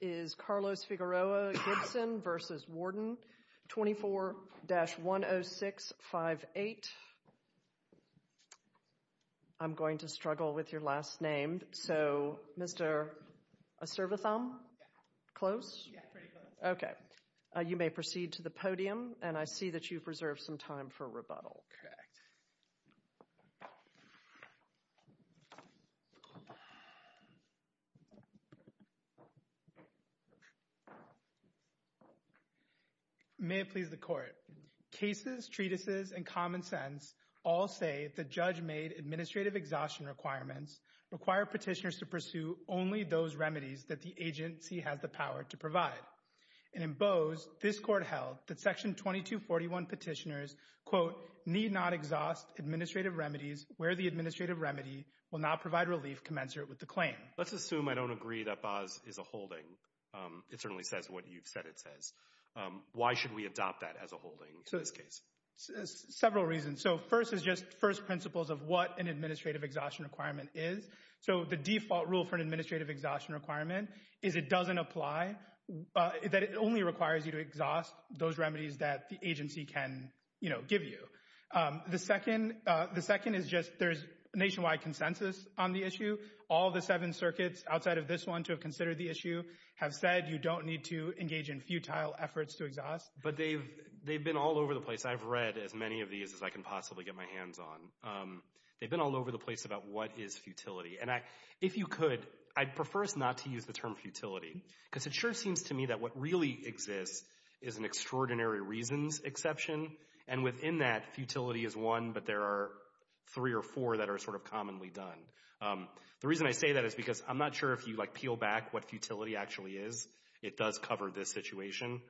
is Carlos Figueroa-Gibson v. Warden, 24-10658. I'm going to struggle with your last name. So, Mr. Aservatham? Close? Okay. You may proceed to the podium, and I see that you've reserved some time for rebuttal. Correct. May it please the Court. Cases, treatises, and common sense all say that judge-made administrative exhaustion requirements require petitioners to pursue only those remedies that the agency has the power to provide. And in Bose, this Court held that Section 2241 petitioners quote, need not exhaust administrative remedies where the administrative remedy will not provide relief commensurate with the claim. Let's assume I don't agree that Bose is a holding. It certainly says what you've said it says. Why should we adopt that as a holding in this case? Several reasons. So first is just first principles of what an administrative exhaustion requirement is. So the default rule for an administrative exhaustion requirement is it doesn't apply, that it only requires you to exhaust those remedies that the agency can, you know, give you. The second is just there's nationwide consensus on the issue. All the seven circuits outside of this one to have considered the issue have said you don't need to engage in futile efforts to exhaust. But they've been all over the place. I've read as many of these as I can possibly get my hands on. They've been all over the place about what is futility. And if you could, I'd prefer not to use the term futility, because it sure seems to me that what really exists is an extraordinary reasons exception. And within that, futility is one, but there are three or four that are sort of commonly done. The reason I say that is because I'm not sure if you, like, peel back what futility actually is. It does cover this situation.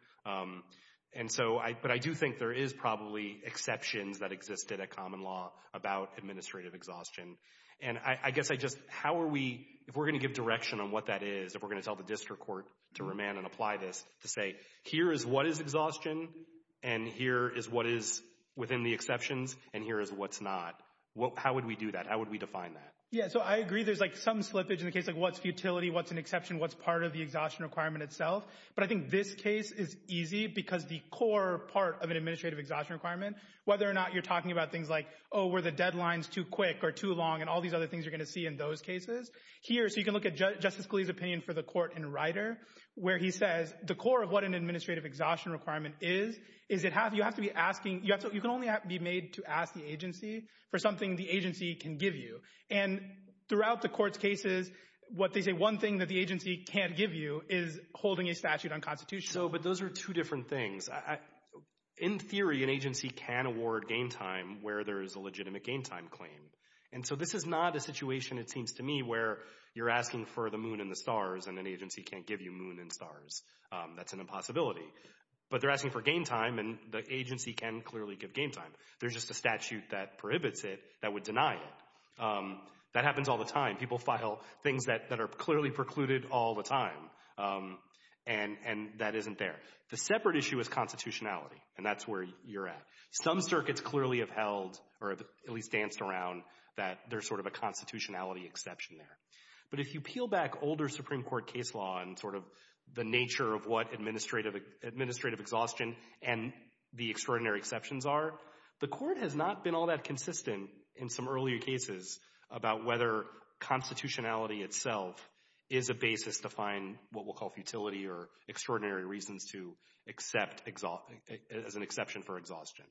And so, but I do think there is probably exceptions that existed at common law about administrative exhaustion. And I guess I just, how are we, if we're going to give direction on what that is, if we're going to tell the district court to remand and apply this, to say, here is what is exhaustion, and here is what is within the exceptions, and here is what's not. How would we do that? How would we define that? Yeah, so I agree there's like some slippage in the case of what's futility, what's an exception, what's part of the exhaustion requirement itself. But I think this case is easy because the core part of an administrative exhaustion requirement, whether or not you're talking about things like, oh, were the deadlines too quick or too long, and all these other things you're going to see in those cases. Here, so you can look at Justice Scalia's opinion for the court in Rider, where he says, the core of what an administrative exhaustion requirement is, is that you have to be asking, you can only be made to ask the agency for something the agency can give you. And throughout the court's cases, what they say, one thing that the agency can't give you is holding a statute unconstitutional. So, but those are two different things. In theory, an agency can award gain time where there is a legitimate gain time claim. And so this is not a situation, it seems to me, where you're asking for the moon and the stars, and an agency can't give you moon and stars. That's an impossibility. But they're asking for gain time, and the agency can clearly give gain time. There's just a statute that prohibits it that would deny it. That happens all the time. People file things that are clearly precluded all the time, and that isn't there. The separate issue is constitutionality, and that's where you're at. Some circuits clearly have held, or at least danced around, that there's sort of a constitutionality exception there. But if you peel back older Supreme Court case law and sort of the nature of what administrative exhaustion and the extraordinary exceptions are, the court has not been all that consistent in some earlier cases about whether constitutionality itself is a basis to find what we'll call futility or extraordinary reasons to accept as an exception for exhaustion.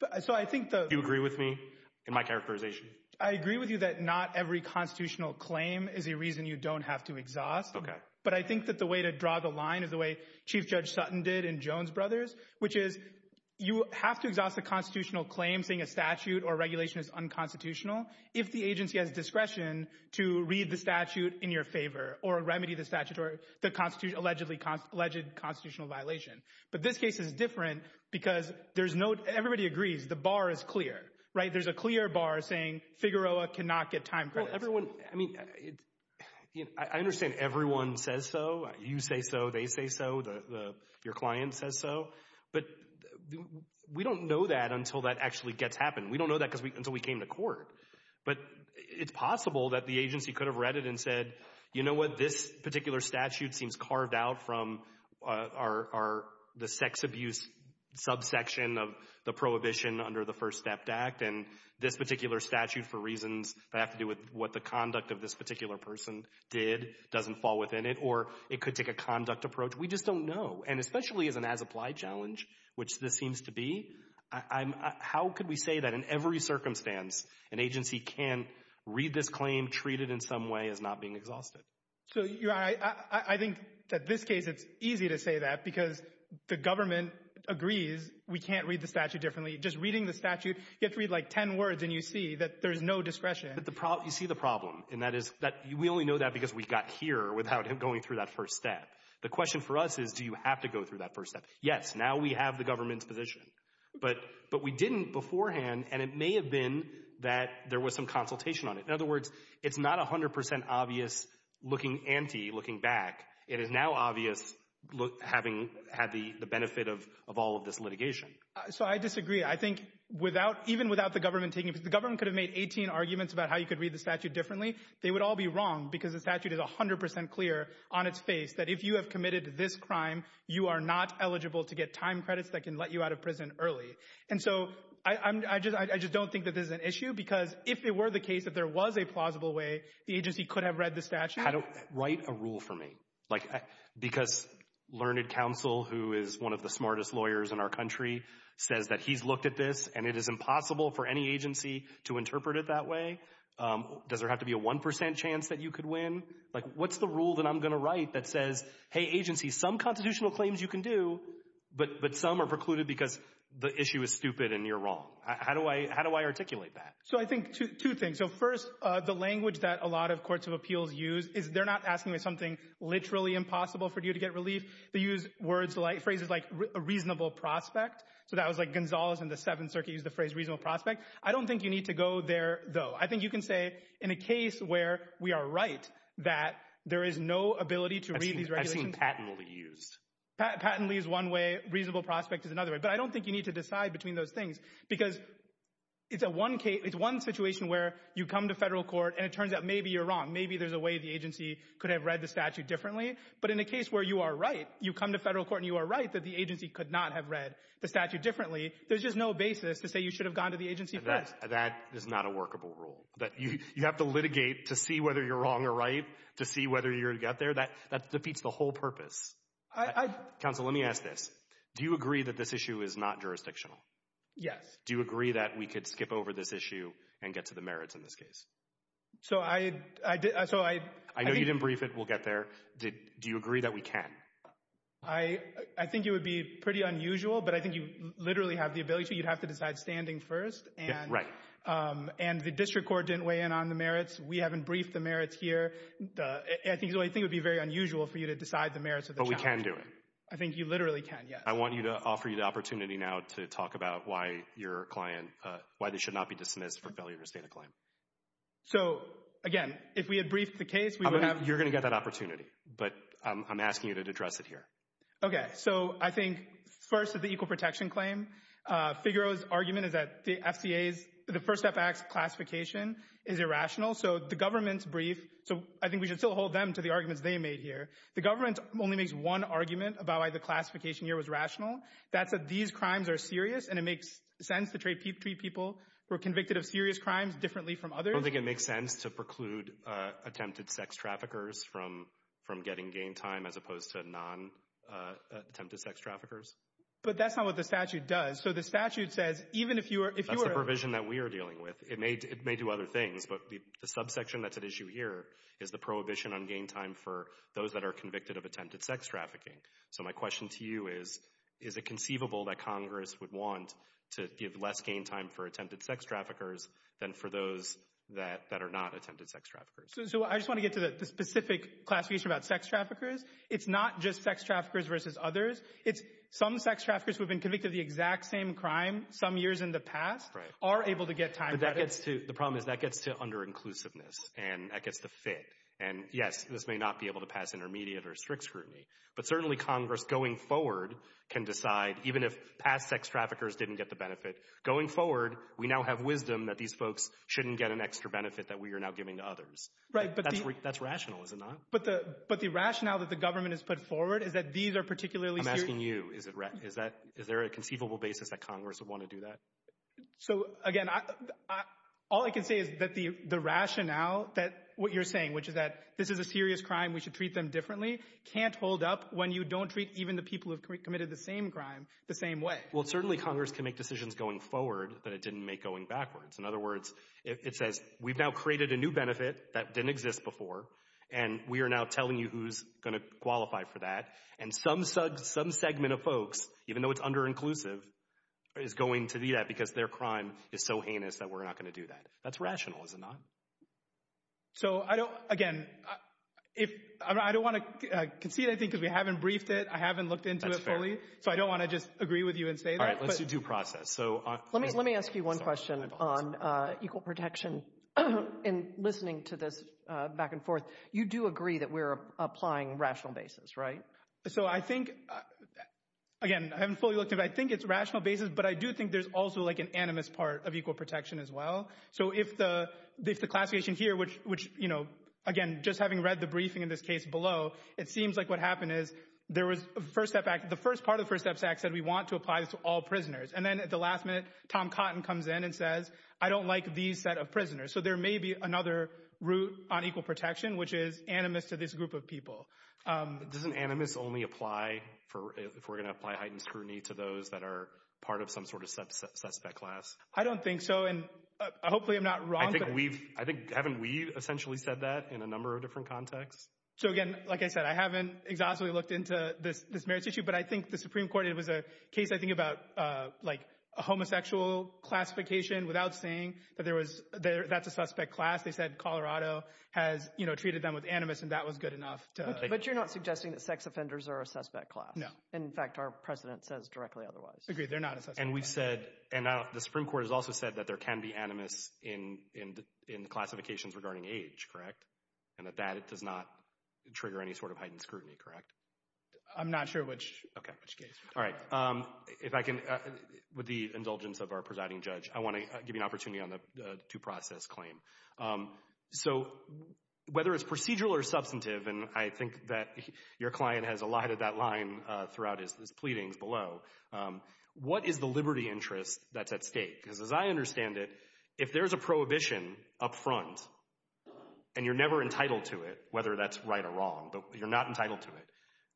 Do you agree with me in my characterization? I agree with you that not every constitutional claim is a reason you don't have to exhaust. But I think that the way to draw the line is the way Chief Judge Sutton did in Jones Brothers, which is you have to exhaust a constitutional claim saying a statute or regulation is unconstitutional if the agency has discretion to read the statute in your favor or remedy the statute or the alleged constitutional violation. But this case is different because there's no—everybody agrees the bar is clear, right? There's a clear bar saying Figueroa cannot get time credits. Well, everyone—I mean, I understand everyone says so. You say so. They say so. Your client says so. But we don't know that until that actually gets happened. We don't know that until we came to court. But it's possible that the agency could have read it and said, you know what, this particular statute seems carved out from the sex abuse subsection of the prohibition under the First Step Act, and this particular statute for reasons that have to do with what the conduct of this particular person did doesn't fall within it, or it could take a conduct approach. We just don't know. And especially as an as-applied challenge, which this seems to be, how could we say that in every circumstance an agency can read this claim, treat it in some way as not being exhausted? So I think that this case, it's easy to say that because the government agrees we can't read the statute differently. Just reading the statute, you have to read like 10 words, and you see that there's no discretion. But you see the problem, and that is that we only know that because we got here without him going through that first step. The question for us is do you have to go through that first step? Yes, now we have the government's position. But we didn't beforehand, and it may have been that there was some consultation on it. In other words, it's not 100% obvious looking anti, looking back. It is now obvious having had the benefit of all of this litigation. So I disagree. I think even without the government taking it, because the government could have made 18 arguments about how you could read the statute differently, they would all be wrong because the statute is 100% clear on its face that if you have committed this crime, you are not eligible to get time credits that can let you out of prison early. And so I just don't think that this is an issue because if it were the case that there was a plausible way, the agency could have read the statute. Write a rule for me. Because Learned Counsel, who is one of the smartest lawyers in our country, says that he's looked at this, and it is impossible for any agency to interpret it that way. Does there have to be a 1% chance that you could win? Like, what's the rule that I'm going to write that says, hey, agency, some constitutional claims you can do, but some are precluded because the issue is stupid and you're wrong? How do I articulate that? So I think two things. So first, the language that a lot of courts of appeals use is they're not asking for something literally impossible for you to get relief. They use phrases like a reasonable prospect. So that was like Gonzales in the Seventh Circuit used the phrase reasonable prospect. I don't think you need to go there, though. I think you can say in a case where we are right that there is no ability to read these regulations. I've seen Pattenley used. Pattenley is one way. Reasonable prospect is another way. But I don't think you need to decide between those things because it's one situation where you come to federal court and it turns out maybe you're wrong. Maybe there's a way the agency could have read the statute differently. But in a case where you are right, you come to federal court and you are right that the agency could not have read the statute differently, there's just no basis to say you should have gone to the agency first. That is not a workable rule. You have to litigate to see whether you're wrong or right to see whether you're going to get there. That defeats the whole purpose. Counsel, let me ask this. Do you agree that this issue is not jurisdictional? Yes. Do you agree that we could skip over this issue and get to the merits in this case? So I... I know you didn't brief it. We'll get there. Do you agree that we can? I think it would be pretty unusual, but I think you literally have the ability to. You'd have to decide standing first. Right. And the district court didn't weigh in on the merits. We haven't briefed the merits here. I think it would be very unusual for you to decide the merits of the challenge. But we can do it. I think you literally can, yes. I want to offer you the opportunity now to talk about why your client, why they should not be dismissed for failure to sustain a claim. So, again, if we had briefed the case, we would have... You're going to get that opportunity, but I'm asking you to address it here. Okay. So I think, first, the equal protection claim. Figaro's argument is that the FCA's, the First Step Act's classification is irrational. So the government's brief, so I think we should still hold them to the arguments they made here. The government only makes one argument about why the classification here was rational. That's that these crimes are serious and it makes sense to treat people who are convicted of serious crimes differently from others. I don't think it makes sense to preclude attempted sex traffickers from getting gain time as opposed to non-attempted sex traffickers. But that's not what the statute does. So the statute says even if you are... That's the provision that we are dealing with. It may do other things, but the subsection that's at issue here is the prohibition on gain time for those that are convicted of attempted sex trafficking. So my question to you is, is it conceivable that Congress would want to give less gain time for attempted sex traffickers than for those that are not attempted sex traffickers? So I just want to get to the specific classification about sex traffickers. It's not just sex traffickers versus others. It's some sex traffickers who have been convicted of the exact same crime some years in the past are able to get time. But that gets to, the problem is that gets to under-inclusiveness and that gets the fit. And yes, this may not be able to pass intermediate or strict scrutiny. But certainly Congress, going forward, can decide, even if past sex traffickers didn't get the benefit, going forward, we now have wisdom that these folks shouldn't get an extra benefit that we are now giving to others. Right. That's rational, is it not? But the rationale that the government has put forward is that these are particularly serious... I'm asking you. Is there a conceivable basis that Congress would want to do that? So again, all I can say is that the rationale that what you're saying, which is that this is a serious crime, we should treat them differently, can't hold up when you don't treat even the people who have committed the same crime the same way. Well, certainly Congress can make decisions going forward that it didn't make going backwards. In other words, it says we've now created a new benefit that didn't exist before, and we are now telling you who's going to qualify for that. And some segment of folks, even though it's under-inclusive, is going to do that because their crime is so heinous that we're not going to do that. That's rational, is it not? So I don't, again, I don't want to concede anything because we haven't briefed it. I haven't looked into it fully. So I don't want to just agree with you and say that. All right, let's do process. Let me ask you one question on equal protection. In listening to this back and forth, you do agree that we're applying rational basis, right? So I think, again, I haven't fully looked at it, but I think it's rational basis, but I do think there's also an animus part of equal protection as well. So if the classification here, which, again, just having read the briefing in this case below, it seems like what happened is the first part of the First Steps Act said we want to apply this to all prisoners. And then at the last minute, Tom Cotton comes in and says, I don't like these set of prisoners. So there may be another route on equal protection, which is animus to this group of people. Doesn't animus only apply if we're going to apply heightened scrutiny to those that are part of some sort of suspect class? I don't think so, and hopefully I'm not wrong. I think haven't we essentially said that in a number of different contexts? So, again, like I said, I haven't exhaustively looked into this merits issue, but I think the Supreme Court, it was a case, I think, about a homosexual classification without saying that that's a suspect class. They said Colorado has treated them with animus, and that was good enough. But you're not suggesting that sex offenders are a suspect class? No. In fact, our precedent says directly otherwise. Agreed, they're not a suspect class. And we've said, and the Supreme Court has also said that there can be animus in classifications regarding age, correct? And that that does not trigger any sort of heightened scrutiny, correct? I'm not sure which case. All right. If I can, with the indulgence of our presiding judge, I want to give you an opportunity on the due process claim. So whether it's procedural or substantive, and I think that your client has allotted that line throughout his pleadings below, what is the liberty interest that's at stake? Because as I understand it, if there's a prohibition up front and you're never entitled to it, whether that's right or wrong, but you're not entitled to it,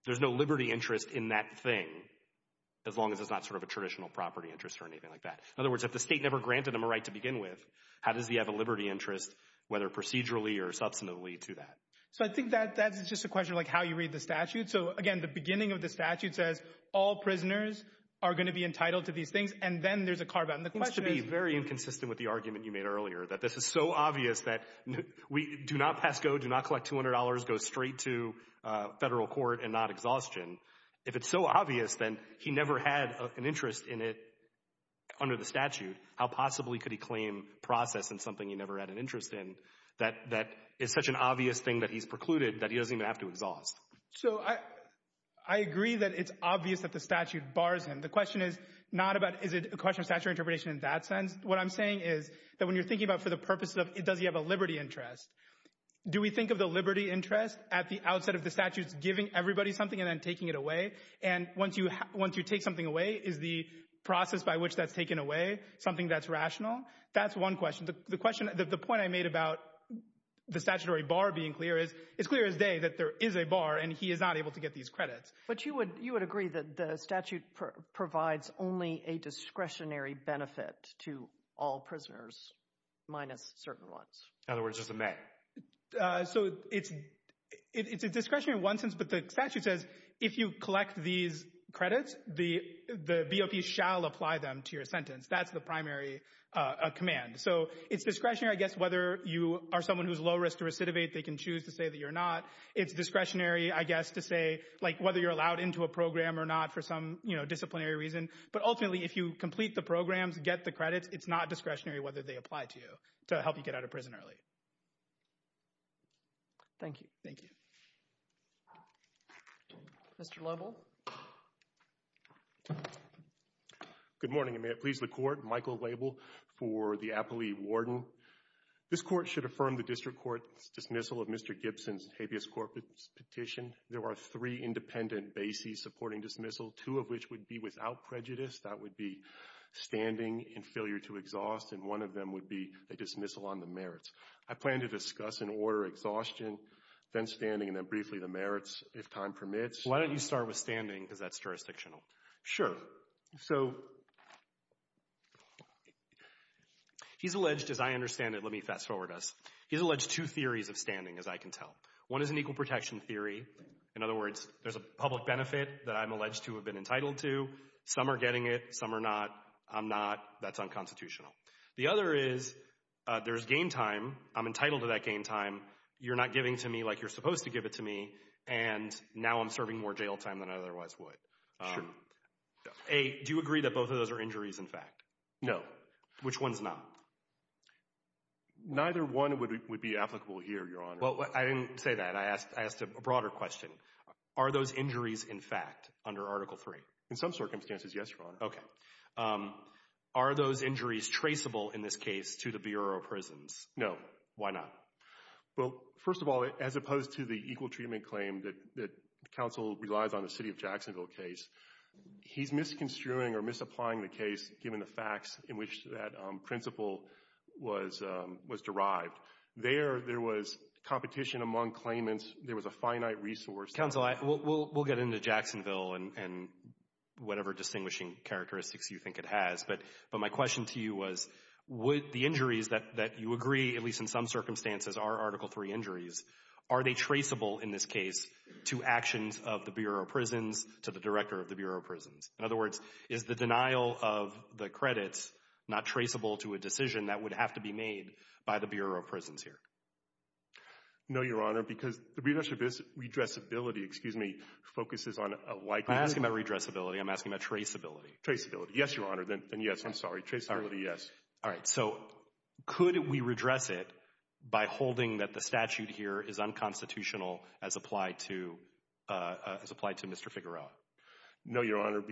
there's no liberty interest in that thing, as long as it's not sort of a traditional property interest or anything like that. In other words, if the state never granted them a right to begin with, how does he have a liberty interest, whether procedurally or substantively, to that? So I think that's just a question of how you read the statute. So, again, the beginning of the statute says all prisoners are going to be entitled to these things, and then there's a carve-out. And the question is — It seems to be very inconsistent with the argument you made earlier, that this is so obvious that we do not pass go, do not collect $200, go straight to Federal court and not exhaustion. If it's so obvious, then he never had an interest in it under the statute. How possibly could he claim process in something he never had an interest in, that is such an obvious thing that he's precluded that he doesn't even have to exhaust? So I agree that it's obvious that the statute bars him. The question is not about is it a question of statutory interpretation in that sense. What I'm saying is that when you're thinking about for the purpose of does he have a liberty interest, do we think of the liberty interest at the outset of the statutes giving everybody something and then taking it away? And once you take something away, is the process by which that's taken away something that's rational? That's one question. The point I made about the statutory bar being clear is it's clear as day that there is a bar, and he is not able to get these credits. But you would agree that the statute provides only a discretionary benefit to all prisoners minus certain ones? In other words, just the men. So it's discretionary in one sense, but the statute says if you collect these credits, the BOP shall apply them to your sentence. That's the primary command. So it's discretionary, I guess, whether you are someone who's low risk to recidivate. They can choose to say that you're not. It's discretionary, I guess, to say whether you're allowed into a program or not for some disciplinary reason. But ultimately, if you complete the programs, get the credits, it's not discretionary whether they apply to you to help you get out of prison early. Thank you. Thank you. Mr. Label? Good morning, and may it please the Court. Michael Label for the Appley Warden. This Court should affirm the district court's dismissal of Mr. Gibson's habeas corpus petition. There are three independent bases supporting dismissal, two of which would be without prejudice. That would be standing and failure to exhaust, and one of them would be a dismissal on the merits. I plan to discuss in order exhaustion, then standing, and then briefly the merits if time permits. Why don't you start with standing because that's jurisdictional? Sure. So he's alleged, as I understand it, let me fast forward us. He's alleged two theories of standing, as I can tell. One is an equal protection theory. In other words, there's a public benefit that I'm alleged to have been entitled to. Some are getting it. Some are not. I'm not. That's unconstitutional. The other is there's gain time. I'm entitled to that gain time. You're not giving to me like you're supposed to give it to me, and now I'm serving more jail time than I otherwise would. Sure. A, do you agree that both of those are injuries in fact? No. Which one's not? Neither one would be applicable here, Your Honor. Well, I didn't say that. I asked a broader question. Are those injuries in fact under Article III? In some circumstances, yes, Your Honor. Okay. Are those injuries traceable in this case to the Bureau of Prisons? No. Why not? Well, first of all, as opposed to the equal treatment claim that counsel relies on the city of Jacksonville case, he's misconstruing or misapplying the case given the facts in which that principle was derived. There, there was competition among claimants. There was a finite resource. Counsel, we'll get into Jacksonville and whatever distinguishing characteristics you think it has, but my question to you was, would the injuries that you agree, at least in some circumstances, are Article III injuries, are they traceable in this case to actions of the Bureau of Prisons, to the director of the Bureau of Prisons? In other words, is the denial of the credits not traceable to a decision that would have to be made by the Bureau of Prisons here? No, Your Honor, because the redressability, excuse me, focuses on a likelihood. I'm asking about redressability. I'm asking about traceability. Traceability. Yes, Your Honor, then yes. I'm sorry. Traceability, yes. All right. So could we redress it by holding that the statute here is unconstitutional as applied to Mr. Figueroa? No, Your Honor,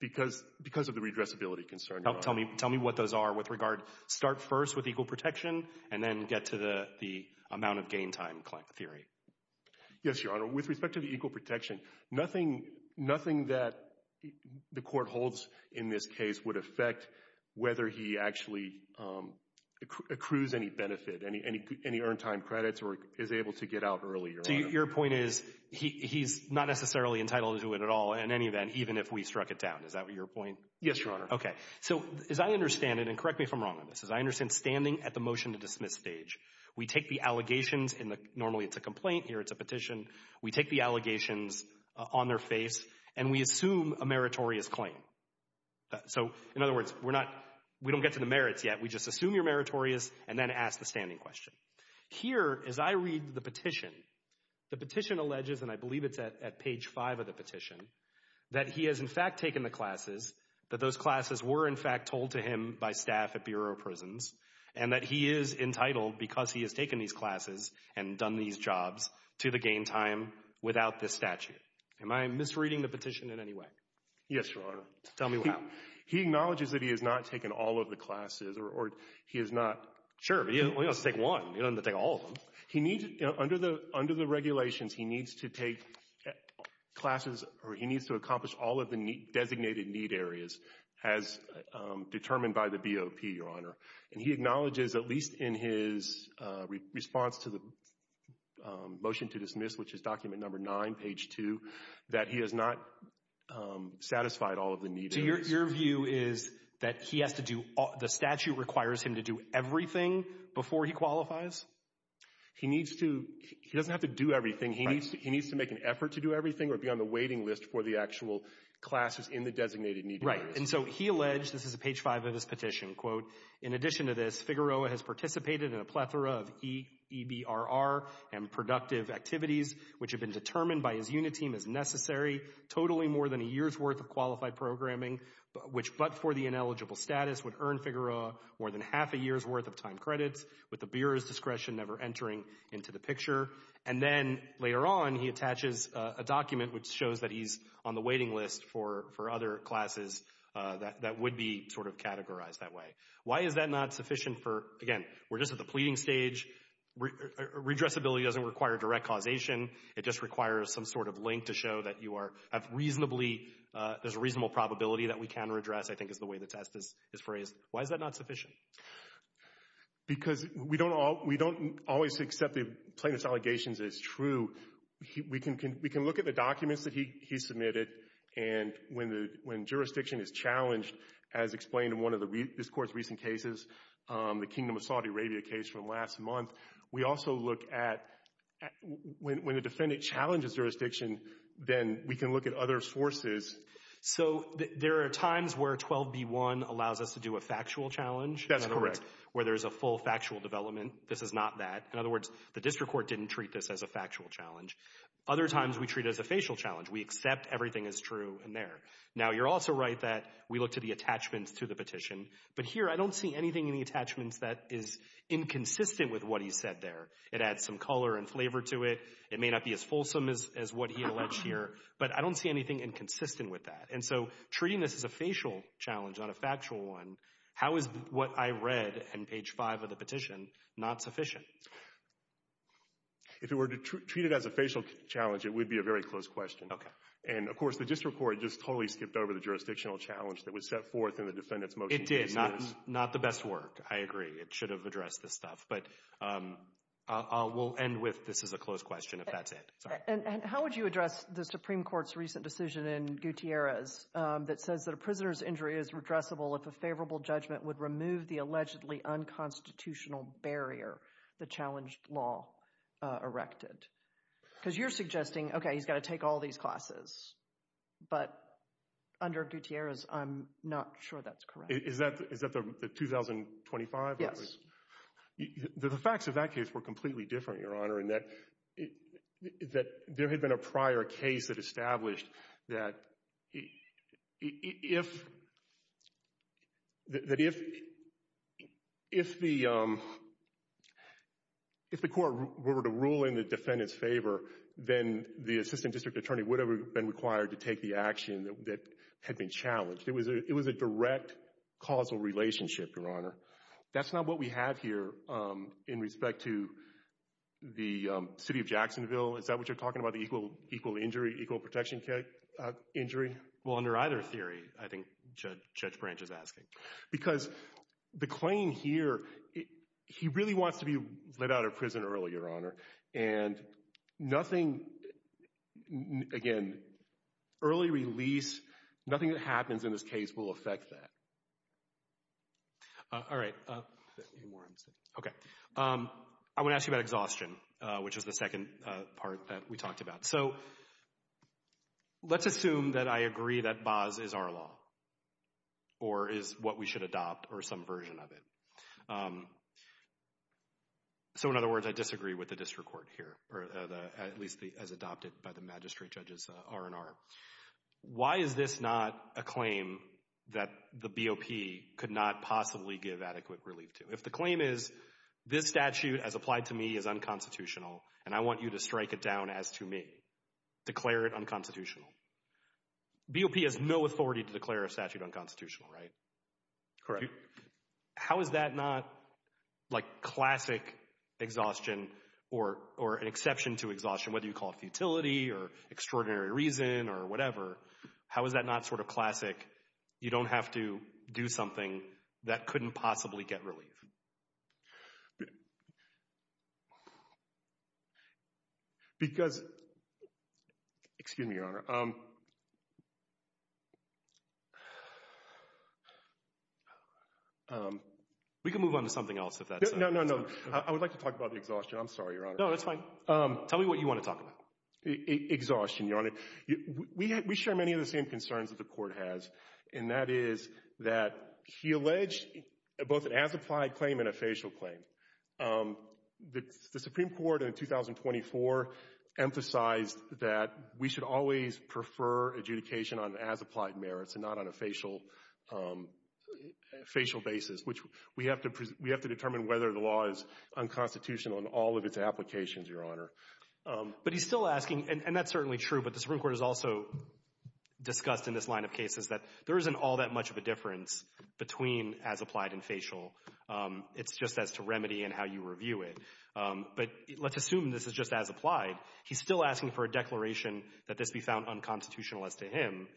because of the redressability concern. Tell me what those are with regard. Start first with equal protection and then get to the amount of gain time theory. Yes, Your Honor. With respect to the equal protection, nothing that the court holds in this case would affect whether he actually accrues any benefit, any earned time credits or is able to get out early, Your Honor. So your point is he's not necessarily entitled to it at all in any event, even if we struck it down. Is that your point? Yes, Your Honor. Okay. So as I understand it, and correct me if I'm wrong on this, as I understand standing at the motion to dismiss stage, we take the allegations, and normally it's a complaint here. It's a petition. We take the allegations on their face, and we assume a meritorious claim. So, in other words, we don't get to the merits yet. We just assume you're meritorious and then ask the standing question. Here, as I read the petition, the petition alleges, and I believe it's at page 5 of the petition, that he has in fact taken the classes, that those classes were in fact told to him by staff at Bureau of Prisons, and that he is entitled because he has taken these classes and done these jobs to the gain time without this statute. Am I misreading the petition in any way? Yes, Your Honor. Tell me why. He acknowledges that he has not taken all of the classes or he has not. Sure, but he only has to take one. He doesn't have to take all of them. Under the regulations, he needs to take classes or he needs to accomplish all of the designated need areas as determined by the BOP, Your Honor. And he acknowledges, at least in his response to the motion to dismiss, which is document number 9, page 2, that he has not satisfied all of the need areas. So your view is that he has to do, the statute requires him to do everything before he qualifies? He needs to, he doesn't have to do everything. He needs to make an effort to do everything or be on the waiting list for the actual classes in the designated need areas. Right, and so he alleged, this is page 5 of his petition, quote, in addition to this, Figueroa has participated in a plethora of EBRR and productive activities which have been determined by his unit team as necessary, totally more than a year's worth of qualified programming, which but for the ineligible status would earn Figueroa more than half a year's worth of time credits, with the Bureau's discretion never entering into the picture. And then later on, he attaches a document which shows that he's on the waiting list for other classes that would be sort of categorized that way. Why is that not sufficient for, again, we're just at the pleading stage, redressability doesn't require direct causation, it just requires some sort of link to show that you are, have reasonably, there's a reasonable probability that we can redress, I think is the way the test is phrased. Why is that not sufficient? Because we don't always accept the plaintiff's allegations as true. We can look at the documents that he submitted and when jurisdiction is challenged, as explained in one of this court's recent cases, the Kingdom of Saudi Arabia case from last month, we also look at, when a defendant challenges jurisdiction, then we can look at other sources. So there are times where 12b-1 allows us to do a factual challenge? That's correct. Where there's a full factual development, this is not that. In other words, the district court didn't treat this as a factual challenge. Other times we treat it as a facial challenge. We accept everything is true in there. Now, you're also right that we look to the attachments to the petition, but here I don't see anything in the attachments that is inconsistent with what he said there. It adds some color and flavor to it. It may not be as fulsome as what he alleged here, but I don't see anything inconsistent with that. And so treating this as a facial challenge, not a factual one, how is what I read in page 5 of the petition not sufficient? If it were treated as a facial challenge, it would be a very close question. And, of course, the district court just totally skipped over the jurisdictional challenge that was set forth in the defendant's motion. It did. Not the best work. I agree. It should have addressed this stuff. But we'll end with this is a close question if that's it. And how would you address the Supreme Court's recent decision in Gutierrez that says that a prisoner's injury is redressable if a favorable judgment would remove the allegedly unconstitutional barrier the challenged law erected? Because you're suggesting, okay, he's got to take all these classes. But under Gutierrez, I'm not sure that's correct. Is that the 2025? Yes. The facts of that case were completely different, Your Honor, in that there had been a prior case that established that if the court were to rule in the defendant's favor, then the assistant district attorney would have been required to take the action that had been challenged. It was a direct causal relationship, Your Honor. That's not what we have here in respect to the city of Jacksonville. Is that what you're talking about, the equal protection injury? Well, under either theory, I think Judge Branch is asking. Because the claim here, he really wants to be let out of prison early, Your Honor. And nothing, again, early release, nothing that happens in this case will affect that. All right. Okay. I want to ask you about exhaustion, which is the second part that we talked about. So let's assume that I agree that BAS is our law or is what we should adopt or some version of it. So in other words, I disagree with the district court here, or at least as adopted by the magistrate judges R&R. Why is this not a claim that the BOP could not possibly give adequate relief to? If the claim is this statute, as applied to me, is unconstitutional, and I want you to strike it down as to me, declare it unconstitutional, BOP has no authority to declare a statute unconstitutional, right? Correct. How is that not like classic exhaustion or an exception to exhaustion, whether you call it futility or extraordinary reason or whatever? How is that not sort of classic, you don't have to do something that couldn't possibly get relief? Because, excuse me, Your Honor. We can move on to something else if that's okay. No, no, no. I would like to talk about the exhaustion. I'm sorry, Your Honor. No, that's fine. Tell me what you want to talk about. Exhaustion, Your Honor. We share many of the same concerns that the court has, and that is that he alleged both an as-applied claim and a facial claim. The Supreme Court in 2024 emphasized that we should always prefer adjudication on as-applied merits and not on a facial basis, which we have to determine whether the law is unconstitutional in all of its applications, Your Honor. But he's still asking, and that's certainly true, but the Supreme Court has also discussed in this line of cases that there isn't all that much of a difference between as-applied and facial. It's just as to remedy and how you review it. But let's assume this is just as-applied. He's still asking for a declaration that this be found unconstitutional as to him,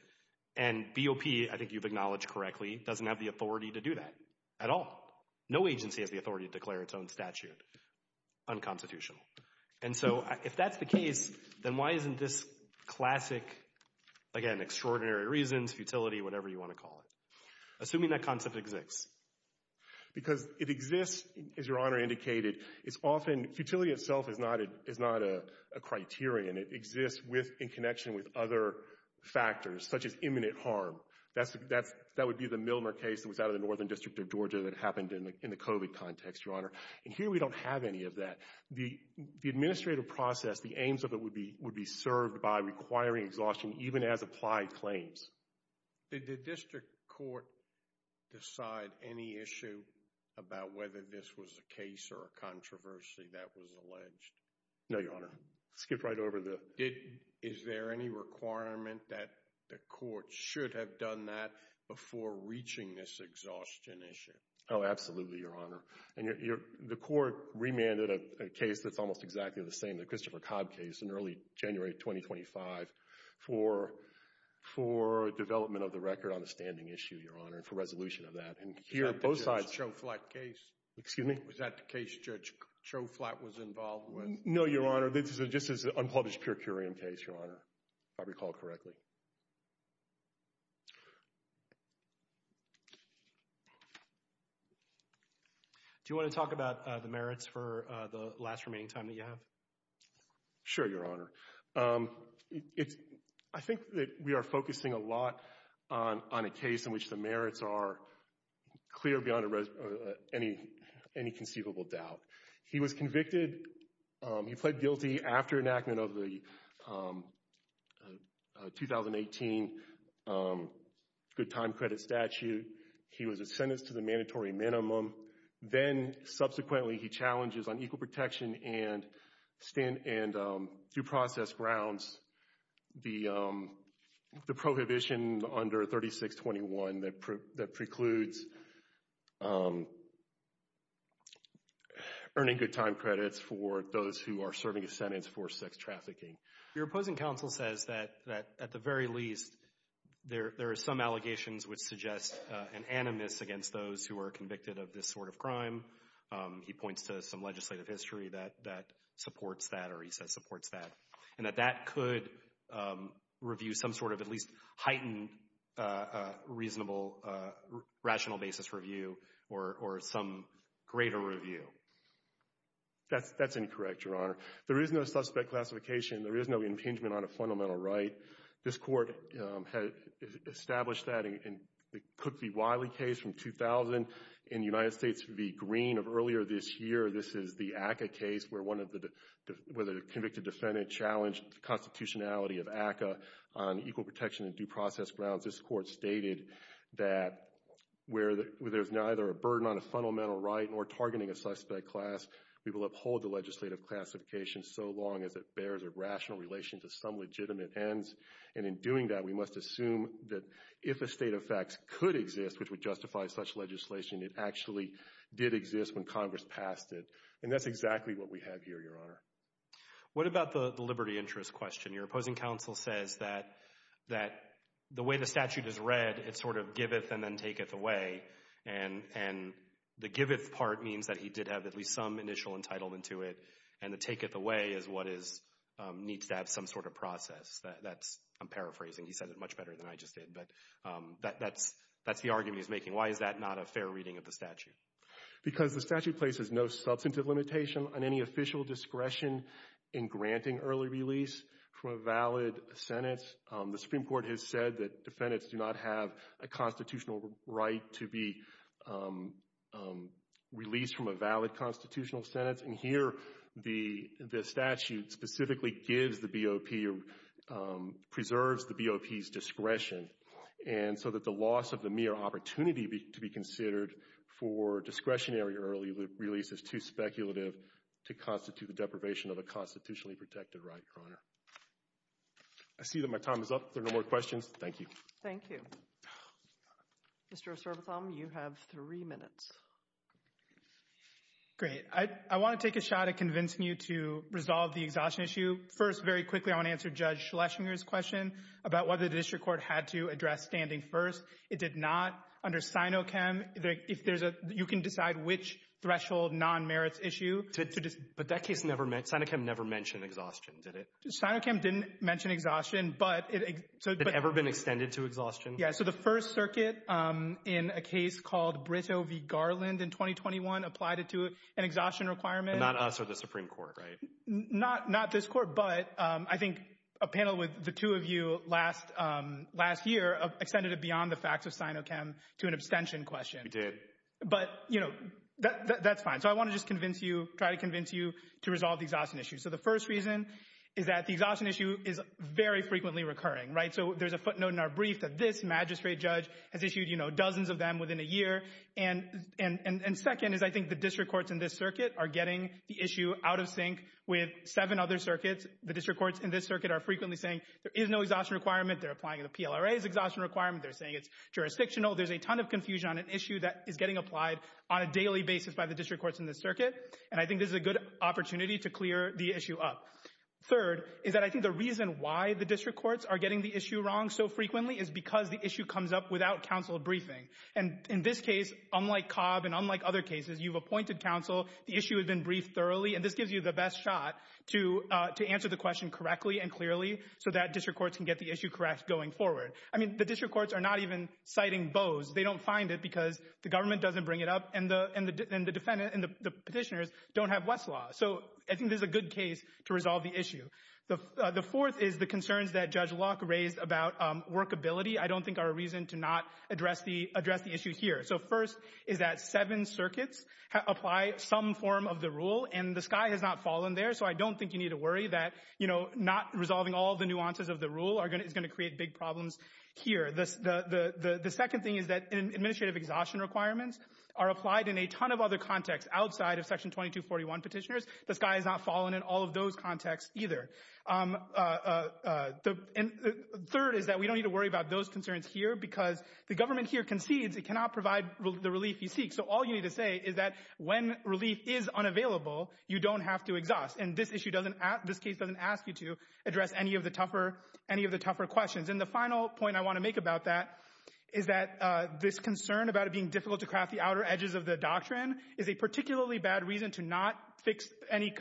and BOP, I think you've acknowledged correctly, doesn't have the authority to do that at all. No agency has the authority to declare its own statute unconstitutional. And so if that's the case, then why isn't this classic, again, extraordinary reasons, futility, whatever you want to call it, assuming that concept exists? Because it exists, as Your Honor indicated. Futility itself is not a criterion. It exists in connection with other factors, such as imminent harm. That would be the Milner case that was out of the Northern District of Georgia that happened in the COVID context, Your Honor. And here we don't have any of that. The administrative process, the aims of it would be served by requiring exhaustion even as-applied claims. Did the district court decide any issue about whether this was a case or a controversy that was alleged? No, Your Honor. Skip right over the- Is there any requirement that the court should have done that before reaching this exhaustion issue? Oh, absolutely, Your Honor. And the court remanded a case that's almost exactly the same, the Christopher Cobb case, in early January of 2025, for development of the record on the standing issue, Your Honor, and for resolution of that. And here, both sides- Was that the Judge Choflat case? Excuse me? Was that the case Judge Choflat was involved with? No, Your Honor. This is an unpublished, pure curiam case, Your Honor, if I recall correctly. Do you want to talk about the merits for the last remaining time that you have? Sure, Your Honor. I think that we are focusing a lot on a case in which the merits are clear beyond any conceivable doubt. He was convicted. He pled guilty after enactment of the 2018 good time credit statute. He was sentenced to the mandatory minimum. Then, subsequently, he challenges on equal protection and due process grounds the prohibition under 3621 that precludes earning good time credits for those who are serving a sentence for sex trafficking. Your opposing counsel says that, at the very least, there are some allegations which suggest an animus against those who are convicted of this sort of crime. He points to some legislative history that supports that, or he says supports that, and that that could review some sort of at least heightened, reasonable, rational basis review or some greater review. That's incorrect, Your Honor. There is no suspect classification. There is no impingement on a fundamental right. This Court established that in the Cook v. Wiley case from 2000. In United States v. Green of earlier this year, this is the ACCA case where one of the convicted defendants challenged the constitutionality of ACCA on equal protection and due process grounds. This Court stated that where there's neither a burden on a fundamental right nor targeting a suspect class, we will uphold the legislative classification so long as it bears a rational relation to some legitimate ends, and in doing that, we must assume that if a state of facts could exist which would justify such legislation, it actually did exist when Congress passed it, and that's exactly what we have here, Your Honor. What about the liberty interest question? Your opposing counsel says that the way the statute is read, it's sort of giveth and then taketh away, and the giveth part means that he did have at least some initial entitlement to it, and the taketh away is what needs to have some sort of process. I'm paraphrasing. He said it much better than I just did, but that's the argument he's making. Why is that not a fair reading of the statute? Because the statute places no substantive limitation on any official discretion in granting early release from a valid sentence. The Supreme Court has said that defendants do not have a constitutional right to be released from a valid constitutional sentence, and here the statute specifically gives the BOP or preserves the BOP's discretion, and so that the loss of the mere opportunity to be considered for discretionary early release is too speculative to constitute the deprivation of a constitutionally protected right, Your Honor. I see that my time is up. There are no more questions. Thank you. Thank you. Mr. O'Sorbotham, you have three minutes. Great. I want to take a shot at convincing you to resolve the exhaustion issue. First, very quickly, I want to answer Judge Schlesinger's question about whether the district court had to address standing first. It did not. Under Sinochem, you can decide which threshold non-merits issue. But Sinochem never mentioned exhaustion, did it? Sinochem didn't mention exhaustion. It had never been extended to exhaustion? Yes. So the First Circuit, in a case called Brito v. Garland in 2021, applied it to an exhaustion requirement. Not us or the Supreme Court, right? Not this court, but I think a panel with the two of you last year extended it beyond the facts of Sinochem to an abstention question. We did. But, you know, that's fine. So I want to just try to convince you to resolve the exhaustion issue. So the first reason is that the exhaustion issue is very frequently recurring, right? So there's a footnote in our brief that this magistrate judge has issued, you know, dozens of them within a year. And second is I think the district courts in this circuit are getting the issue out of sync with seven other circuits. The district courts in this circuit are frequently saying there is no exhaustion requirement. They're applying the PLRA's exhaustion requirement. They're saying it's jurisdictional. There's a ton of confusion on an issue that is getting applied on a daily basis by the district courts in this circuit. And I think this is a good opportunity to clear the issue up. Third is that I think the reason why the district courts are getting the issue wrong so frequently is because the issue comes up without counsel briefing. And in this case, unlike Cobb and unlike other cases, you've appointed counsel. The issue has been briefed thoroughly. And this gives you the best shot to answer the question correctly and clearly so that district courts can get the issue correct going forward. I mean, the district courts are not even citing Bose. They don't find it because the government doesn't bring it up and the petitioners don't have Westlaw. So I think this is a good case to resolve the issue. The fourth is the concerns that Judge Locke raised about workability I don't think are a reason to not address the issue here. So first is that seven circuits apply some form of the rule, and the sky has not fallen there. So I don't think you need to worry that, you know, not resolving all the nuances of the rule is going to create big problems here. The second thing is that administrative exhaustion requirements are applied in a ton of other contexts outside of Section 2241 petitioners. The sky has not fallen in all of those contexts either. And third is that we don't need to worry about those concerns here because the government here concedes it cannot provide the relief you seek. So all you need to say is that when relief is unavailable, you don't have to exhaust. And this issue doesn't, this case doesn't ask you to address any of the tougher questions. And the final point I want to make about that is that this concern about it being difficult to craft the outer edges of the doctrine is a particularly bad reason to not fix any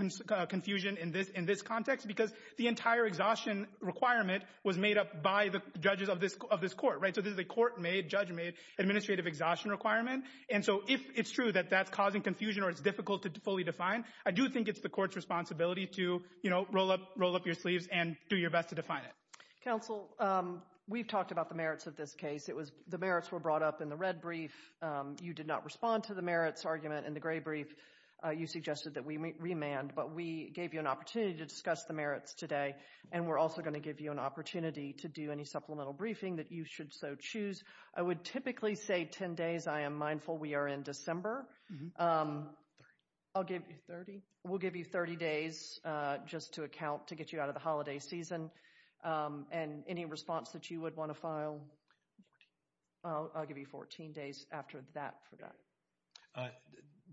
confusion in this context because the entire exhaustion requirement was made up by the judges of this court, right? So this is a court-made, judge-made administrative exhaustion requirement. And so if it's true that that's causing confusion or it's difficult to fully define, I do think it's the court's responsibility to, you know, roll up your sleeves and do your best to define it. Counsel, we've talked about the merits of this case. It was, the merits were brought up in the red brief. You did not respond to the merits argument in the gray brief. You suggested that we remand, but we gave you an opportunity to discuss the merits today. And we're also going to give you an opportunity to do any supplemental briefing that you should so choose. I would typically say 10 days. I am mindful we are in December. I'll give you 30. We'll give you 30 days just to account to get you out of the holiday season. And any response that you would want to file, I'll give you 14 days after that for that.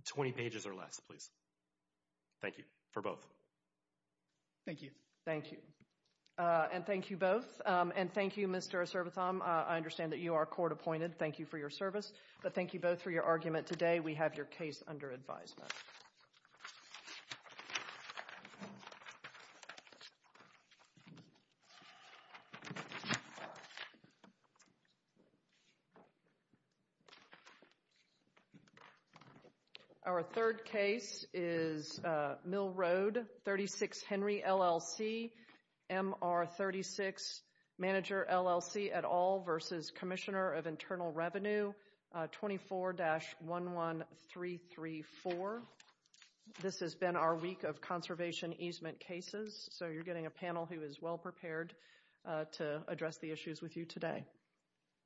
20 pages or less, please. Thank you for both. Thank you. Thank you. And thank you both. And thank you, Mr. Osservatham. I understand that you are court-appointed. Thank you for your service. But thank you both for your argument today. We have your case under advisement. Thank you. Our third case is Mill Road, 36 Henry, LLC. MR36, Manager, LLC, et al. versus Commissioner of Internal Revenue 24-11334. This has been our week of conservation easement cases. So you're getting a panel who is well-prepared to address the issues with you today.